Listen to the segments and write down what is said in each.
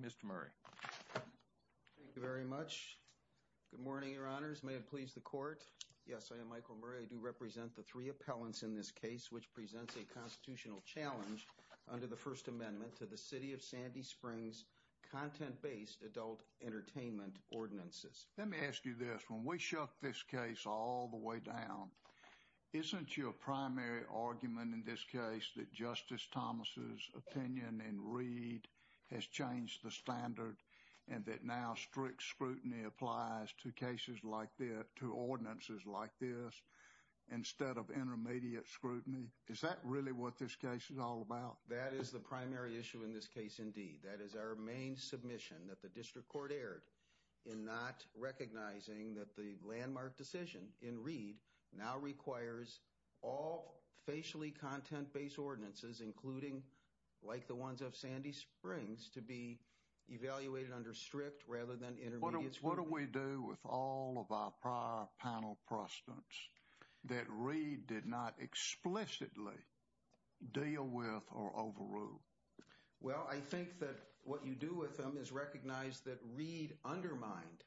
Mr. Murray. Thank you very much. Good morning, your honors. May it please the court. Yes, I am Michael Murray. I do represent the three appellants in this case which presents a constitutional challenge under the First Amendment to the City of Sandy Springs content-based adult entertainment ordinances. Let me ask you this. When we shook this case all the way down, isn't your primary argument in this case that Justice Thomas's opinion and read has changed the standard and that now strict scrutiny applies to cases like this, to ordinances like this, instead of intermediate scrutiny? Is that really what this case is all about? That is the primary issue in this case indeed. That is our main submission that the district court erred in not recognizing that the landmark decision in read now requires all facially content-based ordinances, including like the ones of Sandy Springs, to be evaluated under strict rather than intermediate scrutiny. What do we do with all of our prior panel precedents that read did not explicitly deal with or overrule? Well, I think that what you do with them is recognize that read undermined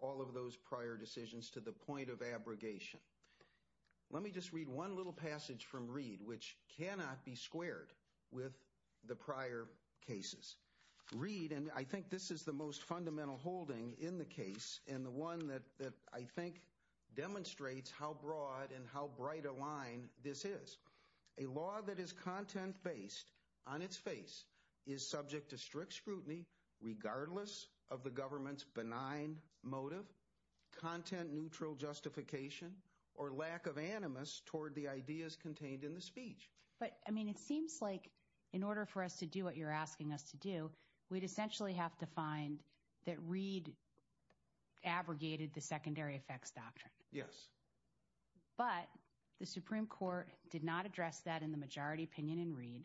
all of those prior decisions to the point of abrogation. Let me just read one little passage from read which cannot be squared with the prior cases. Read, and I think this is the most fundamental holding in the case and the one that I think demonstrates how broad and how bright a line this is. A law that is content-based on its face is subject to strict scrutiny regardless of the government's benign motive, content-neutral justification, or lack of animus toward the ideas contained in the speech. But, I mean, it seems like in order for us to do what you're asking us to do, we'd essentially have to find that read abrogated the secondary effects doctrine. Yes. But the Supreme Court did not address that in the majority opinion in read,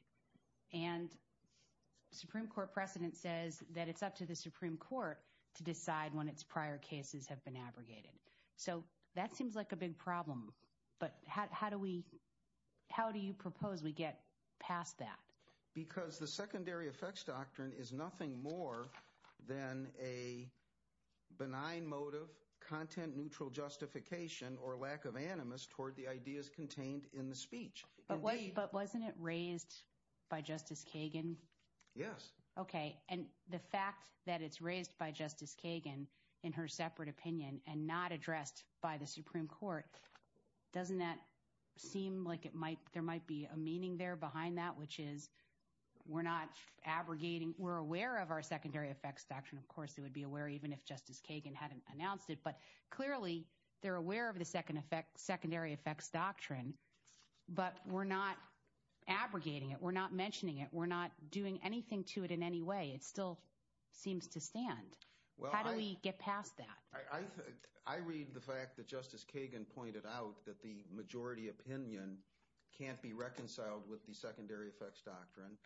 and Supreme Court precedent says that it's up to the Supreme Court to decide when its prior cases have been abrogated. So that seems like a big problem, but how do we, how do you propose we get past that? Because the secondary effects doctrine is nothing more than a benign motive, content-neutral justification, or lack of animus toward the ideas contained in the speech. But wasn't it raised by Justice Kagan? Yes. Okay, and the fact that it's raised by Justice Kagan in her separate opinion and not addressed by the Supreme Court, doesn't that seem like it might, there might be a meaning there behind that, which is we're not abrogating, we're aware of our secondary effects doctrine. Of course, they would be aware even if Justice Kagan hadn't announced it, but clearly they're aware of the secondary effects doctrine, but we're not abrogating it, we're not mentioning it, we're not doing anything to it in any way. It still seems to stand. How do we get past that? I read the fact that Justice Kagan pointed out that the majority opinion can't be reconciled with the secondary effects doctrine,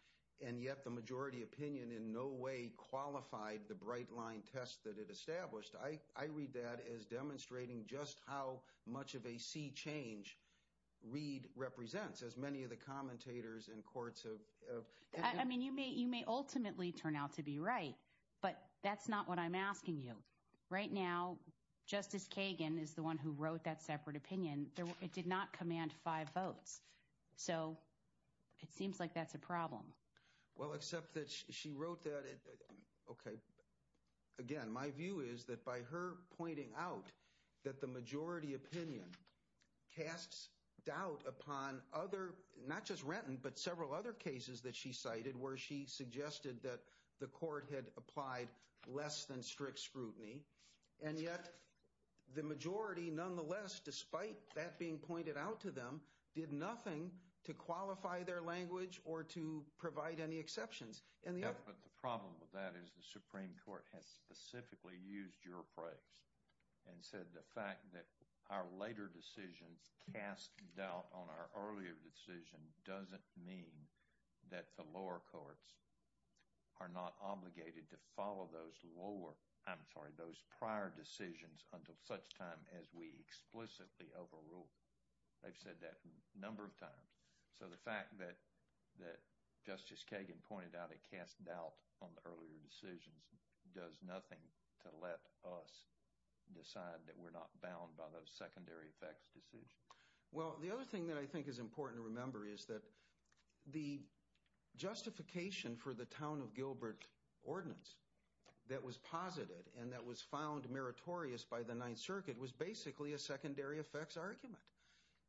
and yet the majority opinion in no way qualified the bright line test that it established. I read that as demonstrating just how much of a sea change Reed represents, as many of the commentators in courts have. I mean, you may ultimately turn out to be right, but that's not what I'm asking you. Right now, Justice Kagan is the one who wrote that separate opinion. It did not command five votes, so it seems like that's a problem. Well, except that she wrote that, okay, again, my view is that by her pointing out that the majority opinion casts doubt upon other, not just Renton, but several other cases that she cited where she suggested that the court had applied less than strict scrutiny, and yet the majority nonetheless, despite that being pointed out to them, did nothing to qualify their language or to provide any exceptions. Yep, but the problem with that is the Supreme Court has specifically used your phrase and said the fact that our later decisions cast doubt on our earlier decision doesn't mean that the lower courts are not obligated to follow those lower, I'm sorry, those prior decisions until such time as we explicitly overrule. They've said that a number of times, so the fact that Justice Kagan pointed out it cast doubt on the earlier decisions does nothing to let us decide that we're not bound by those secondary effects decisions. Well, the other thing that I think is important to remember is that the justification for the Town of Gilbert ordinance that was posited and that was found meritorious by the Ninth Circuit was basically a secondary effects argument.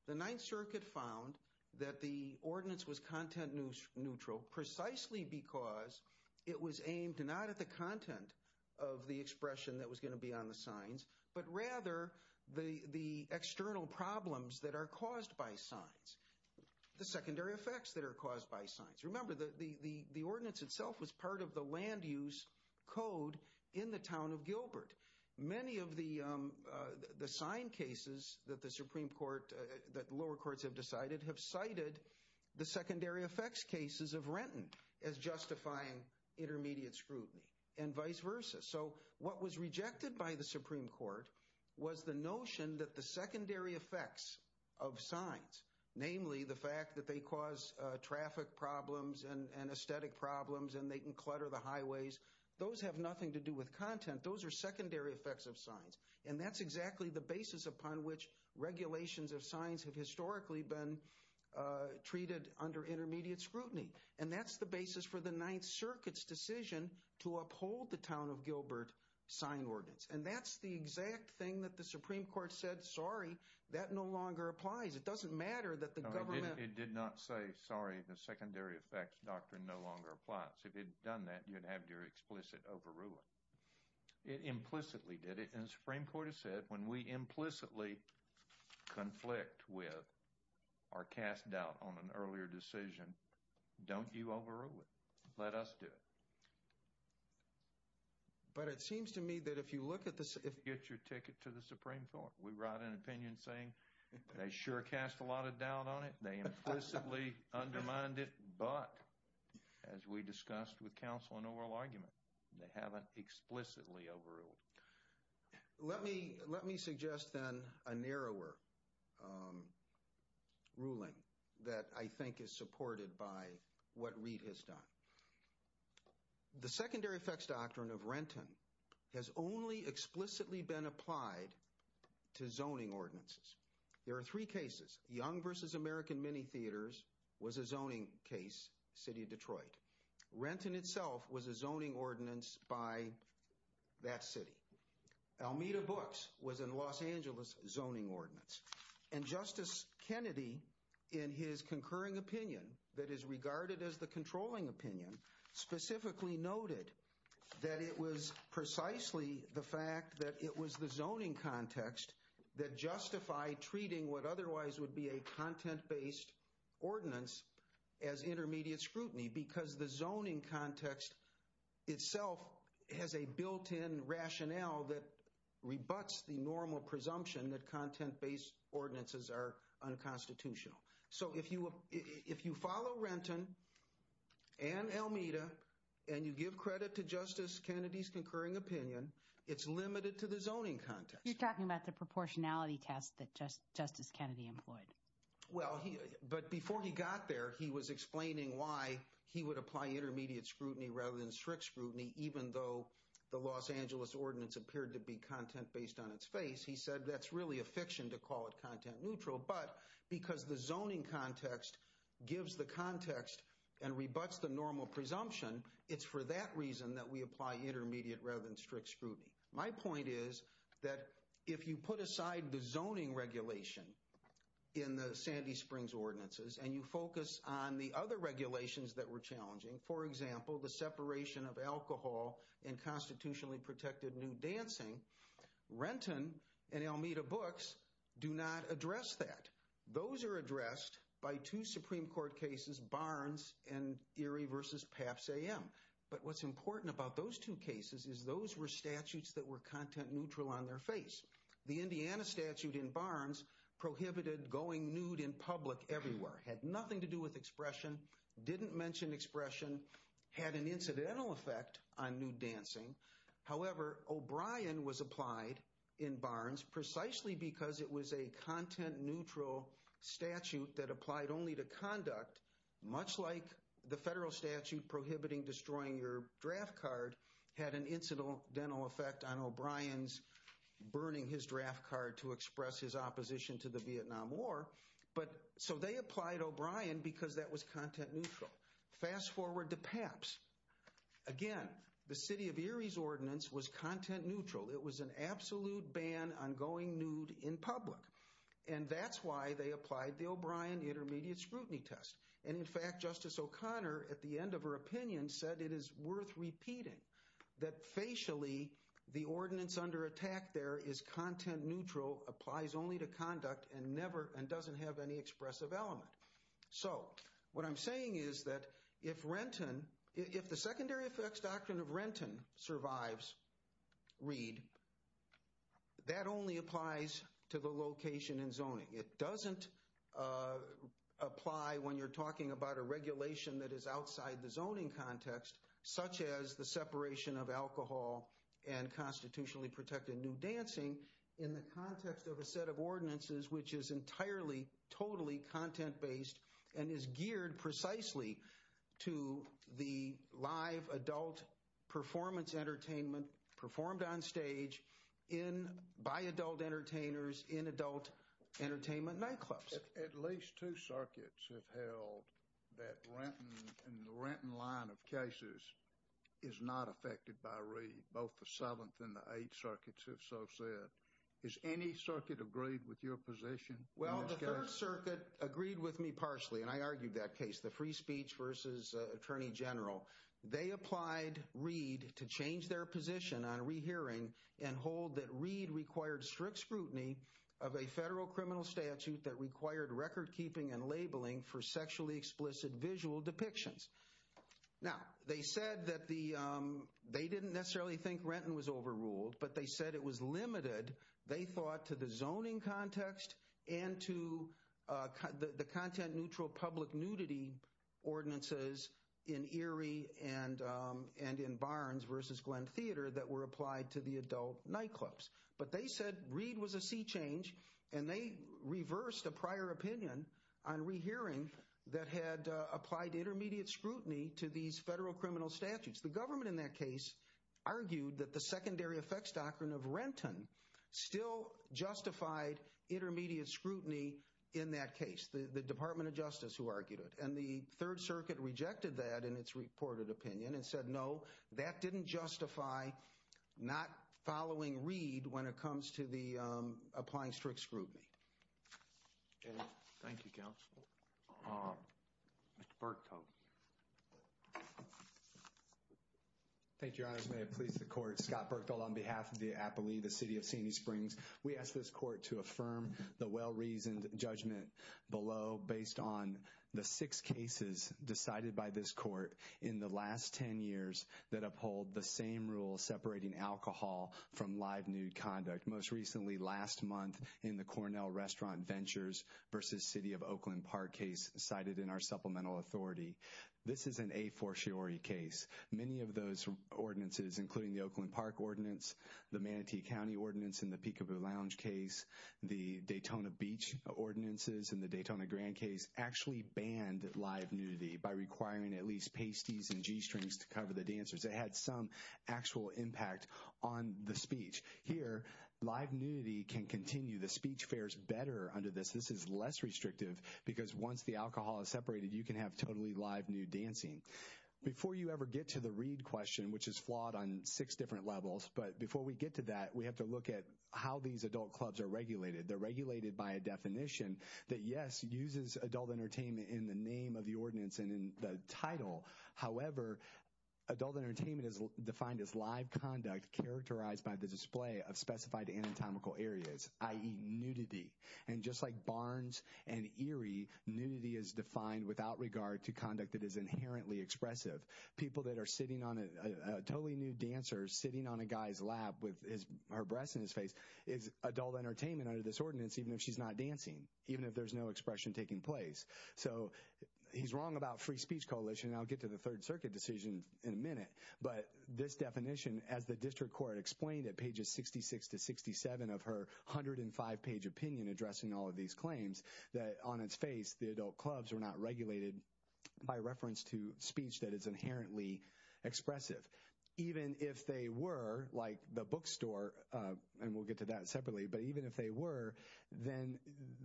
The Ninth Circuit found that the ordinance was content neutral precisely because it was aimed not at the content of the expression that was going to be on the signs, but rather the external problems that are caused by signs, the secondary effects that are caused by signs. Remember, the ordinance itself was part of the land use code in the Town of Gilbert. Many of the sign cases that the Supreme Court, that lower courts have decided, have cited the secondary effects cases of Renton as justifying intermediate scrutiny and vice versa. So what was rejected by the Supreme Court was the notion that the secondary effects of signs, namely the fact that they cause traffic problems and aesthetic problems and they can clutter the highways, those have nothing to do with content. Those are secondary effects of signs and that's exactly the basis upon which regulations of signs have historically been treated under intermediate scrutiny. And that's the basis for the Ninth Circuit's decision to uphold the Town of Gilbert sign ordinance. And that's the exact thing that the Supreme Court said, sorry, that no longer applies. It doesn't matter that the government... It did not say, sorry, the secondary effects doctrine no longer applies. If it had done that, you'd have your explicit overruling. It implicitly did it and the Supreme Court has said when we are cast doubt on an earlier decision, don't you overrule it, let us do it. But it seems to me that if you look at this... If you get your ticket to the Supreme Court, we write an opinion saying they sure cast a lot of doubt on it, they implicitly undermined it, but as we discussed with counsel in oral argument, they haven't explicitly overruled. Let me suggest then a narrower ruling that I think is supported by what Reid has done. The secondary effects doctrine of Renton has only explicitly been applied to zoning ordinances. There are three cases. Young versus American Mini Theaters was a zoning case, city of Detroit. Renton itself was a zoning ordinance by that city. Almeda Books was in Los Angeles zoning ordinance. And Justice Kennedy in his concurring opinion that is regarded as the controlling opinion specifically noted that it was precisely the fact that it was the zoning context that justified treating what otherwise would be a content-based ordinance as intermediate scrutiny because the zoning context itself has a built-in rationale that rebuts the normal presumption that content-based ordinances are unconstitutional. So if you follow Renton and Almeda and you give credit to Justice Kennedy's concurring opinion, it's limited to the zoning context. You're talking about the proportionality test that Justice Kennedy employed. Well, but before he got there, he was explaining why he would apply intermediate scrutiny rather than strict scrutiny even though the Los Angeles ordinance appeared to be content-based on its face. He said that's really a fiction to call it content-neutral. But because the zoning context gives the context and rebuts the normal presumption, it's for that reason that we apply intermediate rather than strict scrutiny. My point is that if you put aside the zoning regulation in the Sandy Springs ordinances and you focus on the other regulations that were challenging, for example, the separation of alcohol and constitutionally protected nude dancing, Renton and Almeda books do not address that. Those are addressed by two Supreme Court cases, Barnes and Erie v. Pabst AM. But what's important about those cases is those were statutes that were content-neutral on their face. The Indiana statute in Barnes prohibited going nude in public everywhere. It had nothing to do with expression, didn't mention expression, had an incidental effect on nude dancing. However, O'Brien was applied in Barnes precisely because it was a content-neutral statute that applied only to had an incidental effect on O'Brien's burning his draft card to express his opposition to the Vietnam War. But so they applied O'Brien because that was content-neutral. Fast forward to Pabst. Again, the city of Erie's ordinance was content-neutral. It was an absolute ban on going nude in public. And that's why they applied the O'Brien intermediate scrutiny test. And in fact, Justice O'Connor, at the end of her opinion, said it is worth repeating that facially the ordinance under attack there is content-neutral, applies only to conduct, and doesn't have any expressive element. So what I'm saying is that if the secondary effects doctrine of Renton survives Reed, that only applies to the location and zoning. It doesn't apply when you're talking about a regulation that is outside the zoning context, such as the separation of alcohol and constitutionally protected nude dancing in the context of a set of ordinances which is entirely, totally content-based and is geared precisely to the live adult performance entertainment performed on stage in by adult entertainers in adult entertainment nightclubs. At least two circuits have held that Renton and the Renton line of cases is not affected by Reed. Both the 7th and the 8th circuits have so said. Is any circuit agreed with your position? Well, the 3rd circuit agreed with me partially, and I argued that case, the free speech versus attorney general. They applied Reed to change their position on rehearing and hold that Reed required strict scrutiny of a federal criminal statute that required record keeping and labeling for sexually explicit visual depictions. Now, they said that they didn't necessarily think Renton was overruled, but they said it was limited, they thought, to the zoning context and to the content-neutral public nudity ordinances in Erie and in Barnes versus Glenn Theater that were applied to the adult nightclubs. But they said Reed was a sea change, and they reversed a prior opinion on rehearing that had applied intermediate scrutiny to these federal criminal statutes. The government in that case argued that the secondary effects doctrine of Renton still justified intermediate scrutiny in that case, the Department of Justice who argued it. And the 3rd circuit rejected that in its reported opinion and said, no, that didn't justify not following Reed when it comes to the applying strict scrutiny. Thank you, counsel. Mr. Berkdahl. Thank you, your honors. May it please the court. Scott Berkdahl on behalf of the Applelea, the judgment below based on the 6 cases decided by this court in the last 10 years that uphold the same rule separating alcohol from live nude conduct, most recently last month in the Cornell Restaurant Ventures versus City of Oakland Park case cited in our supplemental authority. This is an a-for-sure case. Many of those ordinances, including the Oakland Park ordinance, the Manatee County ordinance in the Peekaboo Lounge case, the Daytona Beach ordinances in the Daytona Grand case actually banned live nudity by requiring at least pasties and g-strings to cover the dancers. It had some actual impact on the speech. Here, live nudity can continue. The speech fares better under this. This is less restrictive because once the alcohol is separated, you can have totally live nude dancing. Before you ever get to the Reed question, which is flawed on six different levels, but before we get to that, we have to look at how these adult clubs are regulated. They're regulated by a definition that, yes, uses adult entertainment in the name of the ordinance and in the title. However, adult entertainment is defined as live conduct characterized by the display of specified anatomical areas, i.e., nudity. And just like Barnes and Erie, nudity is defined without regard to conduct that is inherently expressive. People that are sitting on a totally nude dancer sitting on a guy's lap with his her breasts in his face is adult entertainment under this ordinance, even if she's not dancing, even if there's no expression taking place. So he's wrong about free speech coalition. I'll get to the Third Circuit decision in a minute. But this definition, as the district court explained at pages 66 to 67 of her 105 page opinion addressing all of these claims, that on its face, the adult clubs are not regulated by reference to speech that is inherently expressive. Even if they were, like the bookstore, and we'll get to that separately, but even if they were, then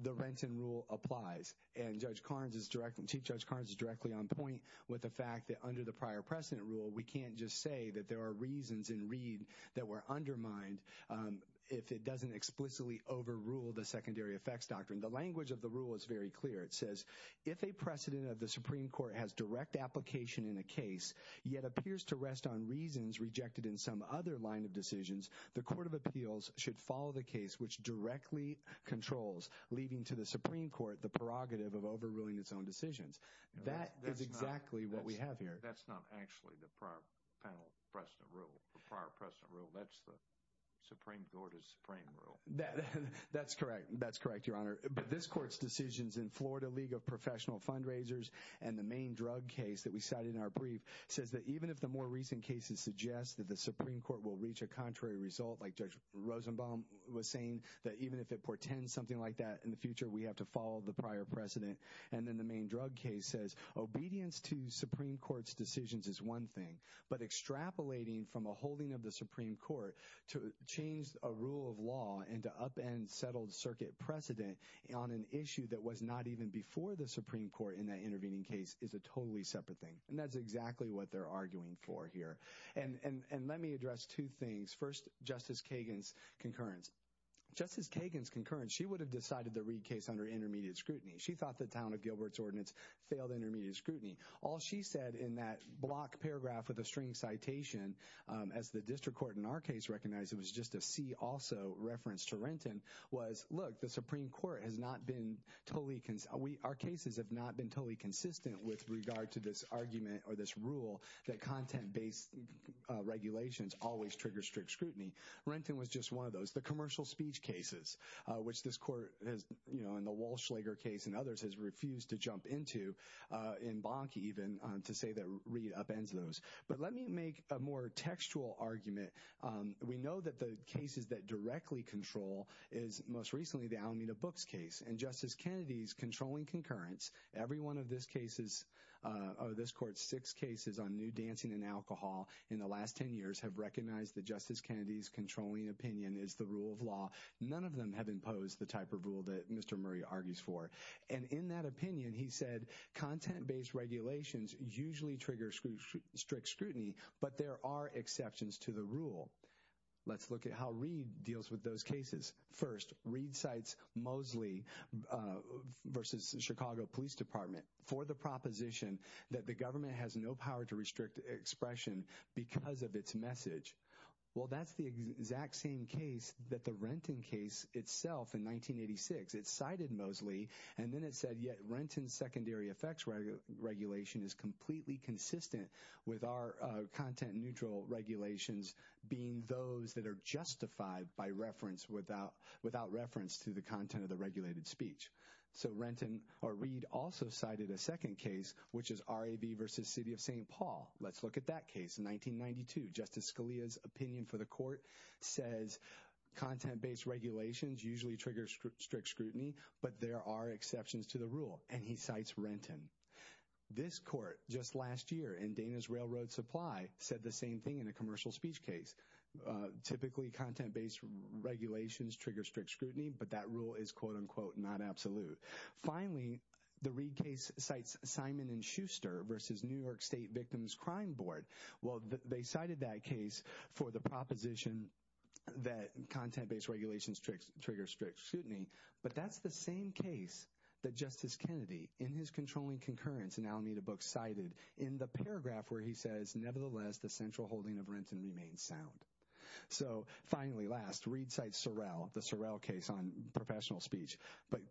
the Renton rule applies. And Judge Karnes is directly, Chief Judge Karnes is directly on point with the fact that under the prior precedent rule, we can't just say that there are reasons in Reed that were undermined if it doesn't explicitly overrule the secondary effects doctrine. The language of the rule is very clear. If a precedent of the Supreme Court has direct application in a case, yet appears to rest on reasons rejected in some other line of decisions, the Court of Appeals should follow the case which directly controls, leaving to the Supreme Court the prerogative of overruling its own decisions. That is exactly what we have here. That's not actually the prior panel precedent rule. The prior precedent rule, that's the Supreme Court is supreme rule. That's correct. That's correct, Your Honor. But this court's decisions in Florida League of Professional Fundraisers and the main drug case that we cited in our brief says that even if the more recent cases suggest that the Supreme Court will reach a contrary result, like Judge Rosenbaum was saying, that even if it portends something like that in the future, we have to follow the prior precedent. And then the main drug case says obedience to Supreme Court's decisions is one thing, but extrapolating from a holding of the Supreme Court to change a upend settled circuit precedent on an issue that was not even before the Supreme Court in that intervening case is a totally separate thing. And that's exactly what they're arguing for here. And let me address two things. First, Justice Kagan's concurrence. Justice Kagan's concurrence, she would have decided the Reid case under intermediate scrutiny. She thought the town of Gilbert's ordinance failed intermediate scrutiny. All she said in that block paragraph with a string citation, as the district court in our case recognized, it was just a see also reference to Renton, was look, the Supreme Court has not been totally, our cases have not been totally consistent with regard to this argument or this rule that content-based regulations always trigger strict scrutiny. Renton was just one of those. The commercial speech cases, which this court has, you know, in the Walsh-Schlager case and others has refused to jump into, in Bonke even, to say that Reid upends those. But let me make a more textual argument. We know that the cases that directly control is most recently the Alameda Books case. And Justice Kennedy's controlling concurrence, every one of this case's, of this court's six cases on nude dancing and alcohol in the last 10 years have recognized that Justice Kennedy's controlling opinion is the rule of law. None of them have imposed the type of rule that Mr. Murray argues for. And in that opinion, he said content-based regulations usually trigger strict scrutiny, but there are exceptions to the how Reid deals with those cases. First, Reid cites Mosley versus the Chicago Police Department for the proposition that the government has no power to restrict expression because of its message. Well, that's the exact same case that the Renton case itself in 1986. It cited Mosley, and then it said, yet Renton's secondary effects regulation is completely consistent with our content-neutral regulations being those that are justified by reference without reference to the content of the regulated speech. So Renton, or Reid, also cited a second case, which is RAV versus City of St. Paul. Let's look at that case in 1992. Justice Scalia's opinion for the court says content-based regulations usually trigger strict scrutiny, but there are exceptions to the rule, and he cites Renton. This court just last year in Dana's Railroad Supply said the same thing in a commercial speech case. Typically, content-based regulations trigger strict scrutiny, but that rule is quote-unquote not absolute. Finally, the Reid case cites Simon and Schuster versus New York State Victims Crime Board. Well, they cited that case for the proposition that content-based regulations trigger strict scrutiny, but that's the same case that Justice Kennedy in his controlling concurrence in Alameda Books cited in the paragraph where he says, nevertheless, the central holding of Renton remains sound. So finally, last, Reid cites Sorrell, the Sorrell case on professional speech, but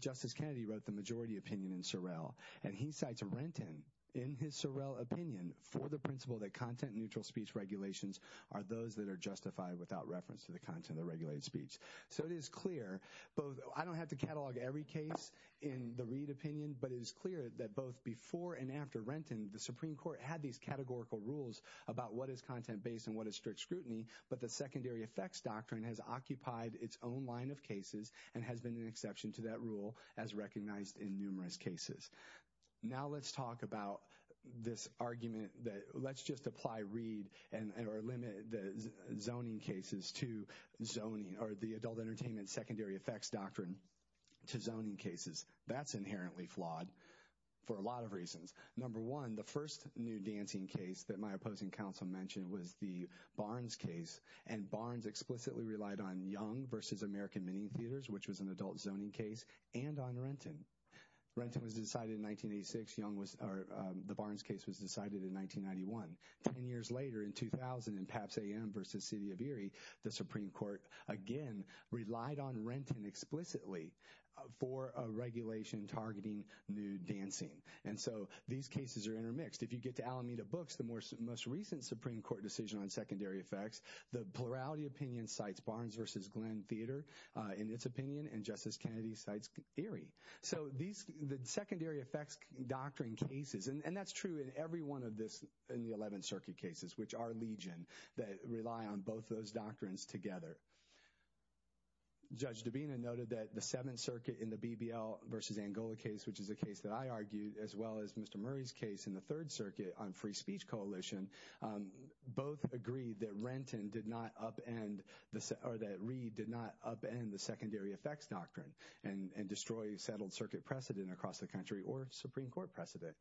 Justice Kennedy wrote the majority opinion in Sorrell, and he cites Renton in his Sorrell opinion for the principle that content-neutral speech regulations are those that are justified without reference to the content of the regulated speech. So it is clear both, I don't have to catalog every case in the Reid opinion, but it is clear that both before and after Renton, the Supreme Court had these categorical rules about what is content-based and what is strict scrutiny, but the secondary effects doctrine has occupied its own line of cases and has been an exception to that rule as recognized in numerous cases. Now let's talk about this argument that let's just apply Reid and or limit the zoning cases to zoning or the adult entertainment secondary effects doctrine to zoning cases. That's inherently flawed for a lot of reasons. Number one, the first new dancing case that my opposing counsel mentioned was the Barnes case, and Barnes explicitly relied on Young versus American Mini Theaters, which was an adult zoning case, and on Renton. Renton was decided in 1986. The Barnes case was decided in 1991. Ten years later, in 2000, in Pabst AM versus City of Erie, the Supreme Court again relied on Renton explicitly for a regulation targeting nude dancing, and so these cases are intermixed. If you get to Alameda Books, the most recent Supreme Court decision on secondary effects, the plurality opinion cites Barnes versus Glenn Theater in its opinion, and Justice Kennedy cites Erie. So these the secondary effects doctrine cases, and that's true in every one of this in the 11th Circuit cases, which are legion that rely on both those doctrines together. Judge Dabena noted that the 7th Circuit in the BBL versus Angola case, which is a case that I argued, as well as Mr. Murray's case in the 3rd Coalition, both agreed that Renton did not upend, or that Reed did not upend the secondary effects doctrine and destroy settled circuit precedent across the country, or Supreme Court precedent.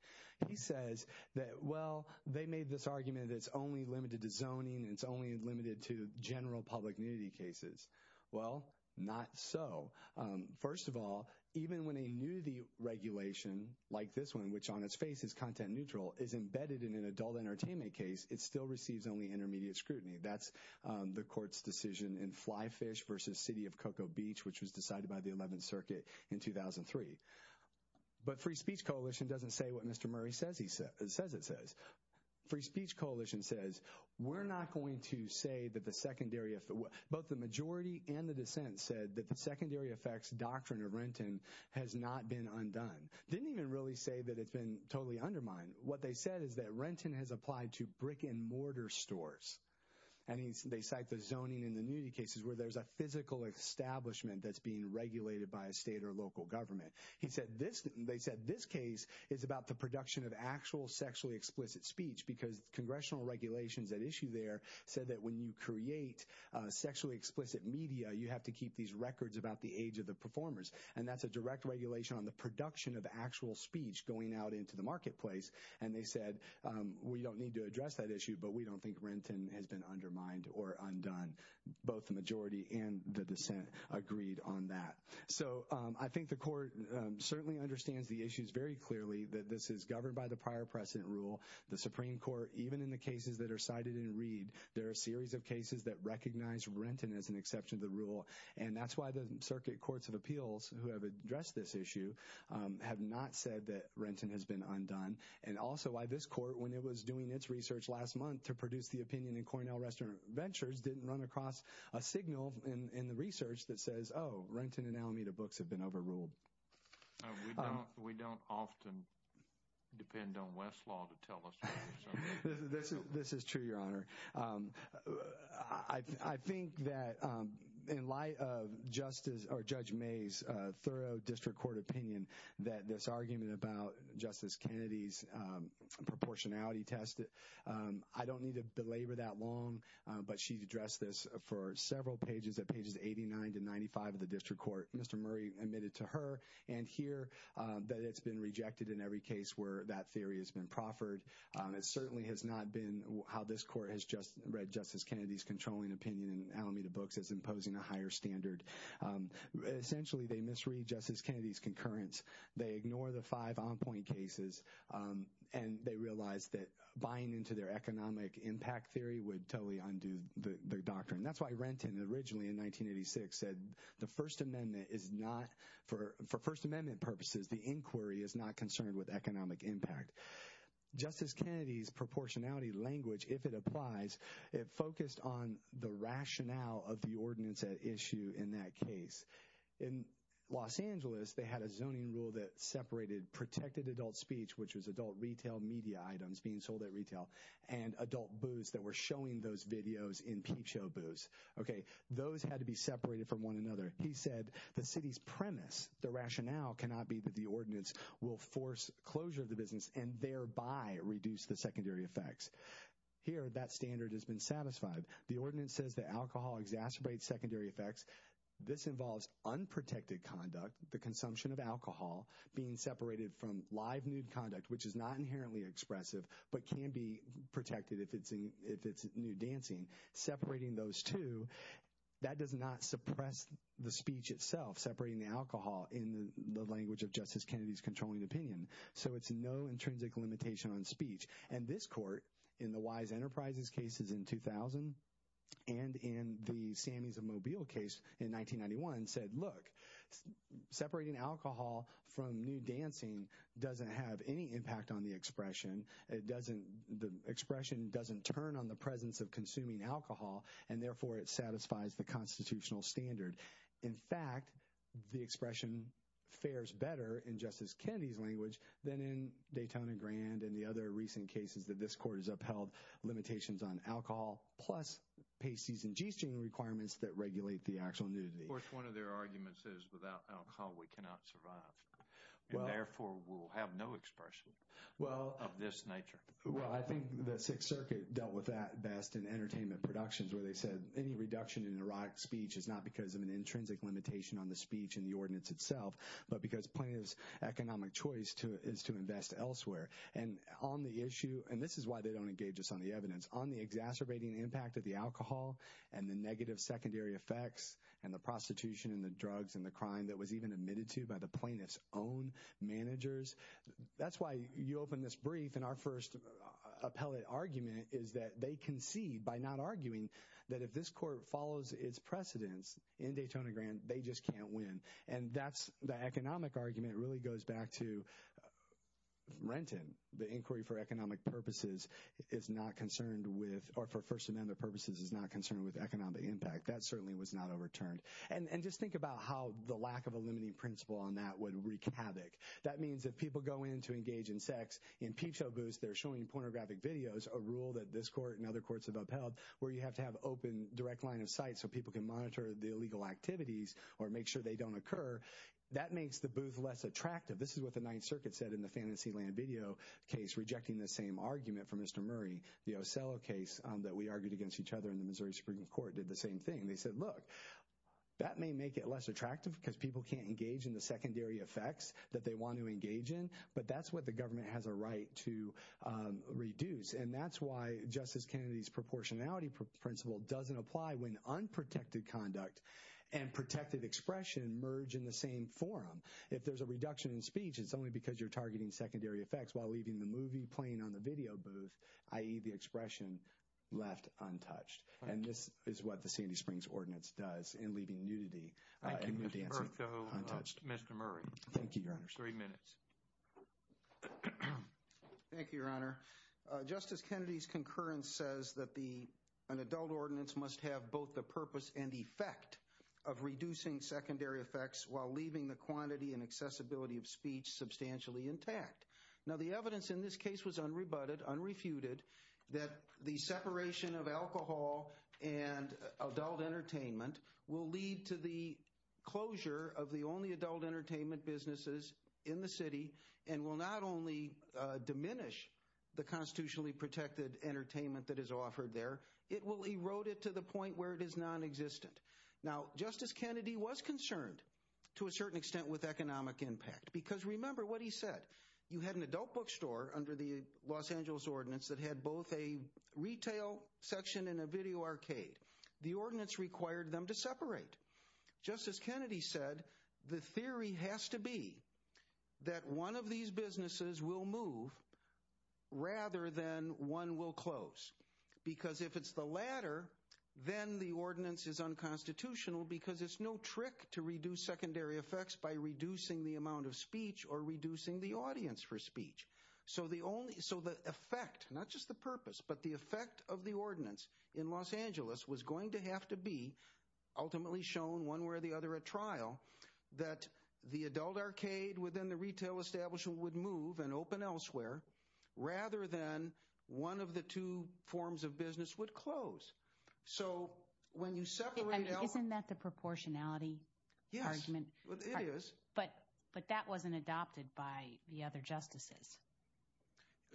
He says that, well, they made this argument that it's only limited to zoning, it's only limited to general public nudity cases. Well, not so. First of all, even when a nudity regulation like this one, which on its face is content neutral, is embedded in an adult entertainment case, it still receives only intermediate scrutiny. That's the court's decision in Flyfish versus City of Cocoa Beach, which was decided by the 11th Circuit in 2003. But Free Speech Coalition doesn't say what Mr. Murray says it says. Free Speech Coalition says, we're not going to say that the secondary, both the majority and the dissent, said that the really say that it's been totally undermined. What they said is that Renton has applied to brick-and-mortar stores. And they cite the zoning in the nudity cases where there's a physical establishment that's being regulated by a state or local government. They said this case is about the production of actual sexually explicit speech, because congressional regulations at issue there said that when you create sexually explicit media, you have to keep these records about the age of performers. And that's a direct regulation on the production of actual speech going out into the marketplace. And they said, we don't need to address that issue, but we don't think Renton has been undermined or undone. Both the majority and the dissent agreed on that. So I think the court certainly understands the issues very clearly that this is governed by the prior precedent rule. The Supreme Court, even in the cases that are cited in Reed, there are a series of cases that recognize Renton as an exception to the rule. And that's why the circuit courts of appeals who have addressed this issue have not said that Renton has been undone. And also why this court, when it was doing its research last month to produce the opinion in Cornell Restaurant Ventures, didn't run across a signal in the research that says, oh, Renton and Alameda books have been overruled. We don't often depend on Westlaw to tell us. This is true, Your Honor. I think that in light of Justice or Judge May's thorough district court opinion that this argument about Justice Kennedy's proportionality test, I don't need to belabor that long, but she's addressed this for several pages at pages 89 to 95 of the district court. Mr. Murray admitted to her and here that it's been rejected in every case where that theory has been proffered. It certainly has not been how this court has just read Justice Kennedy's controlling opinion in Alameda books as imposing a higher standard. Essentially, they misread Justice Kennedy's concurrence. They ignore the five on-point cases, and they realize that buying into their economic impact theory would totally undo the doctrine. That's why Renton, originally in 1986, said the First Amendment is not, for First Amendment purposes, the inquiry is not concerned with economic impact. Justice Kennedy's proportionality language, if it applies, it focused on the rationale of the ordinance at issue in that case. In Los Angeles, they had a zoning rule that separated protected adult speech, which was adult retail media items being sold at Those had to be separated from one another. He said the city's premise, the rationale, cannot be that the ordinance will force closure of the business and thereby reduce the secondary effects. Here, that standard has been satisfied. The ordinance says that alcohol exacerbates secondary effects. This involves unprotected conduct, the consumption of alcohol being separated from live nude conduct, which is not inherently expressive, but can be protected if it's nude dancing. Separating those two, that does not suppress the speech itself, separating the alcohol in the language of Justice Kennedy's controlling opinion. So it's no intrinsic limitation on speech. And this court, in the Wise Enterprises cases in 2000 and in the Sammies of Mobile case in 1991, said, look, separating alcohol from nude dancing doesn't have any impact on the expression. It doesn't, the expression doesn't turn on the presence of consuming alcohol, and therefore it satisfies the constitutional standard. In fact, the expression fares better in Justice Kennedy's language than in Daytona Grande and the other recent cases that this court has upheld limitations on alcohol, plus pasties and g-string requirements that regulate the actual nudity. Of course, one of their arguments is without alcohol, we cannot survive. Therefore, we'll have no expression of this nature. Well, I think the Sixth Circuit dealt with that best in entertainment productions, where they said any reduction in erotic speech is not because of an intrinsic limitation on the speech and the ordinance itself, but because plaintiff's economic choice is to invest elsewhere. And on the issue, and this is why they don't engage us on the evidence, on the exacerbating impact of the alcohol and the negative secondary effects and the prostitution and the drugs and crime that was even admitted to by the plaintiff's own managers. That's why you open this brief and our first appellate argument is that they concede by not arguing that if this court follows its precedents in Daytona Grande, they just can't win. And that's the economic argument really goes back to Renton. The inquiry for economic purposes is not concerned with, or for First Amendment purposes is not concerned with economic impact. That certainly was not overturned. And just think about how the lack of a limiting principle on that would wreak havoc. That means if people go in to engage in sex in peep show booths, they're showing pornographic videos, a rule that this court and other courts have upheld, where you have to have open direct line of sight so people can monitor the illegal activities or make sure they don't occur. That makes the booth less attractive. This is what the Ninth Circuit said in the Fantasyland video case, rejecting the same argument from Mr. Murray. The Ocello case that we argued against each other in the Missouri Supreme Court did the same thing. They said, look, that may make it less attractive because people can't engage in the secondary effects that they want to engage in, but that's what the government has a right to reduce. And that's why Justice Kennedy's proportionality principle doesn't apply when unprotected conduct and protected expression merge in the same forum. If there's a reduction in speech, it's only because you're targeting secondary effects while leaving the movie playing on the video booth, i.e. the expression left untouched. And this is what the Sandy Springs Ordinance does in leaving nudity and dancing untouched. Mr. Murray. Thank you, Your Honor. Thank you, Your Honor. Justice Kennedy's concurrence says that an adult ordinance must have both the purpose and effect of reducing secondary effects while leaving the quantity and accessibility of speech substantially intact. Now, the evidence in this case was unrebutted, unrefuted, that the separation of alcohol and adult entertainment will lead to the closure of the only adult entertainment businesses in the city and will not only diminish the constitutionally protected entertainment that is offered there, it will erode it to the point where it is non-existent. Now, Justice Kennedy was concerned to a certain extent with economic impact because remember what he said. You had an adult bookstore under the Los Angeles Ordinance that had both a retail section and a video arcade. The ordinance required them to separate. Justice Kennedy said the theory has to be that one of these businesses will move rather than one will close because if it's the latter, then the ordinance is unconstitutional because it's no trick to reduce secondary effects by reducing the amount of speech or reducing the audience for speech. So the effect, not just the purpose, but the effect of the ordinance in Los Angeles was going to have to be ultimately shown one way or the other at trial that the adult arcade within the retail establishment would move and open elsewhere rather than one of the two forms of business would close. So when you separate... Isn't that the proportionality argument? Yes, it is. But that wasn't adopted by the other justices.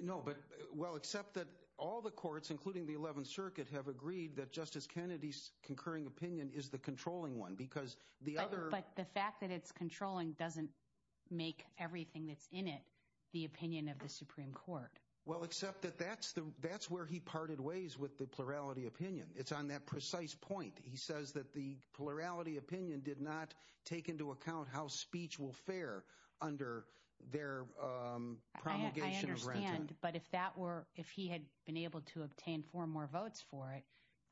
No, but well except that all the courts including the 11th circuit have agreed that Justice Kennedy's concurring opinion is the controlling one because the other... But the fact that it's controlling doesn't make everything that's in it the opinion of the Supreme Court. Well except that that's the that's where he parted ways with the plurality opinion. It's on that precise point. He says that the plurality opinion did not take into account how speech will fare under their promulgation of rent. I understand, but if that were if he had been able to obtain four more votes for it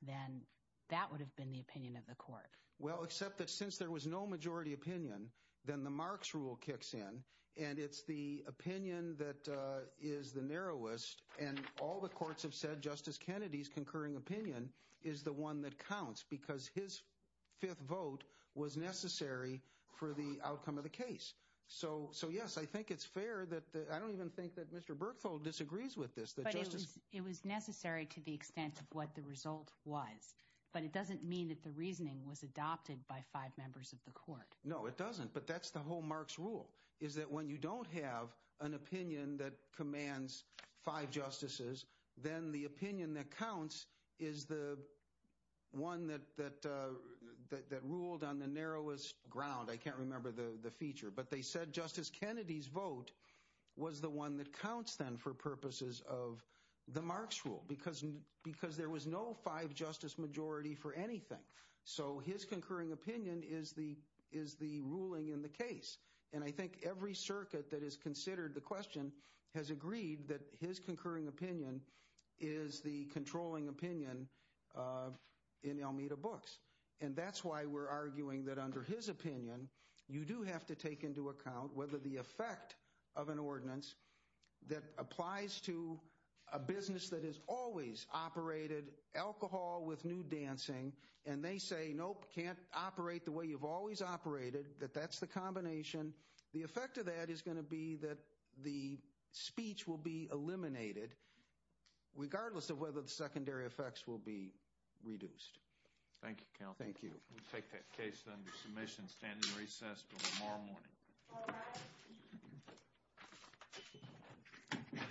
then that would have been the opinion of the court. Well except that since there was no majority opinion then the Marx rule kicks in and it's the opinion that is the narrowest and all the courts have said Justice Kennedy's concurring opinion is the one that counts because his fifth vote was necessary for the outcome of the case. So yes, I think it's fair that I don't even think that Mr. Berkfeld disagrees with this. It was necessary to the extent of what the result was, but it doesn't mean that the reasoning was adopted by five members of the court. No it doesn't, but that's the whole Marx rule is that when you don't have an opinion that commands five justices then the opinion that counts is the one that ruled on the narrowest ground. I can't remember the feature, but they said Justice Kennedy's vote was the one that counts then for purposes of the Marx rule because there was no five justice majority for anything. So his concurring opinion is the ruling in the case and I think every circuit that has considered the question has agreed that his concurring opinion is the controlling opinion in Almeida books and that's why we're arguing that under his opinion you do have to take into account whether the effect of an ordinance that applies to a business that has always operated alcohol with nude dancing and they say nope, can't operate the way you've always operated, that that's the combination, the effect of that is going to be that the speech will be eliminated regardless of whether the secondary effects will be reduced. Thank you, counsel. Thank you. We'll take that case then to submission, stand in recess until tomorrow morning.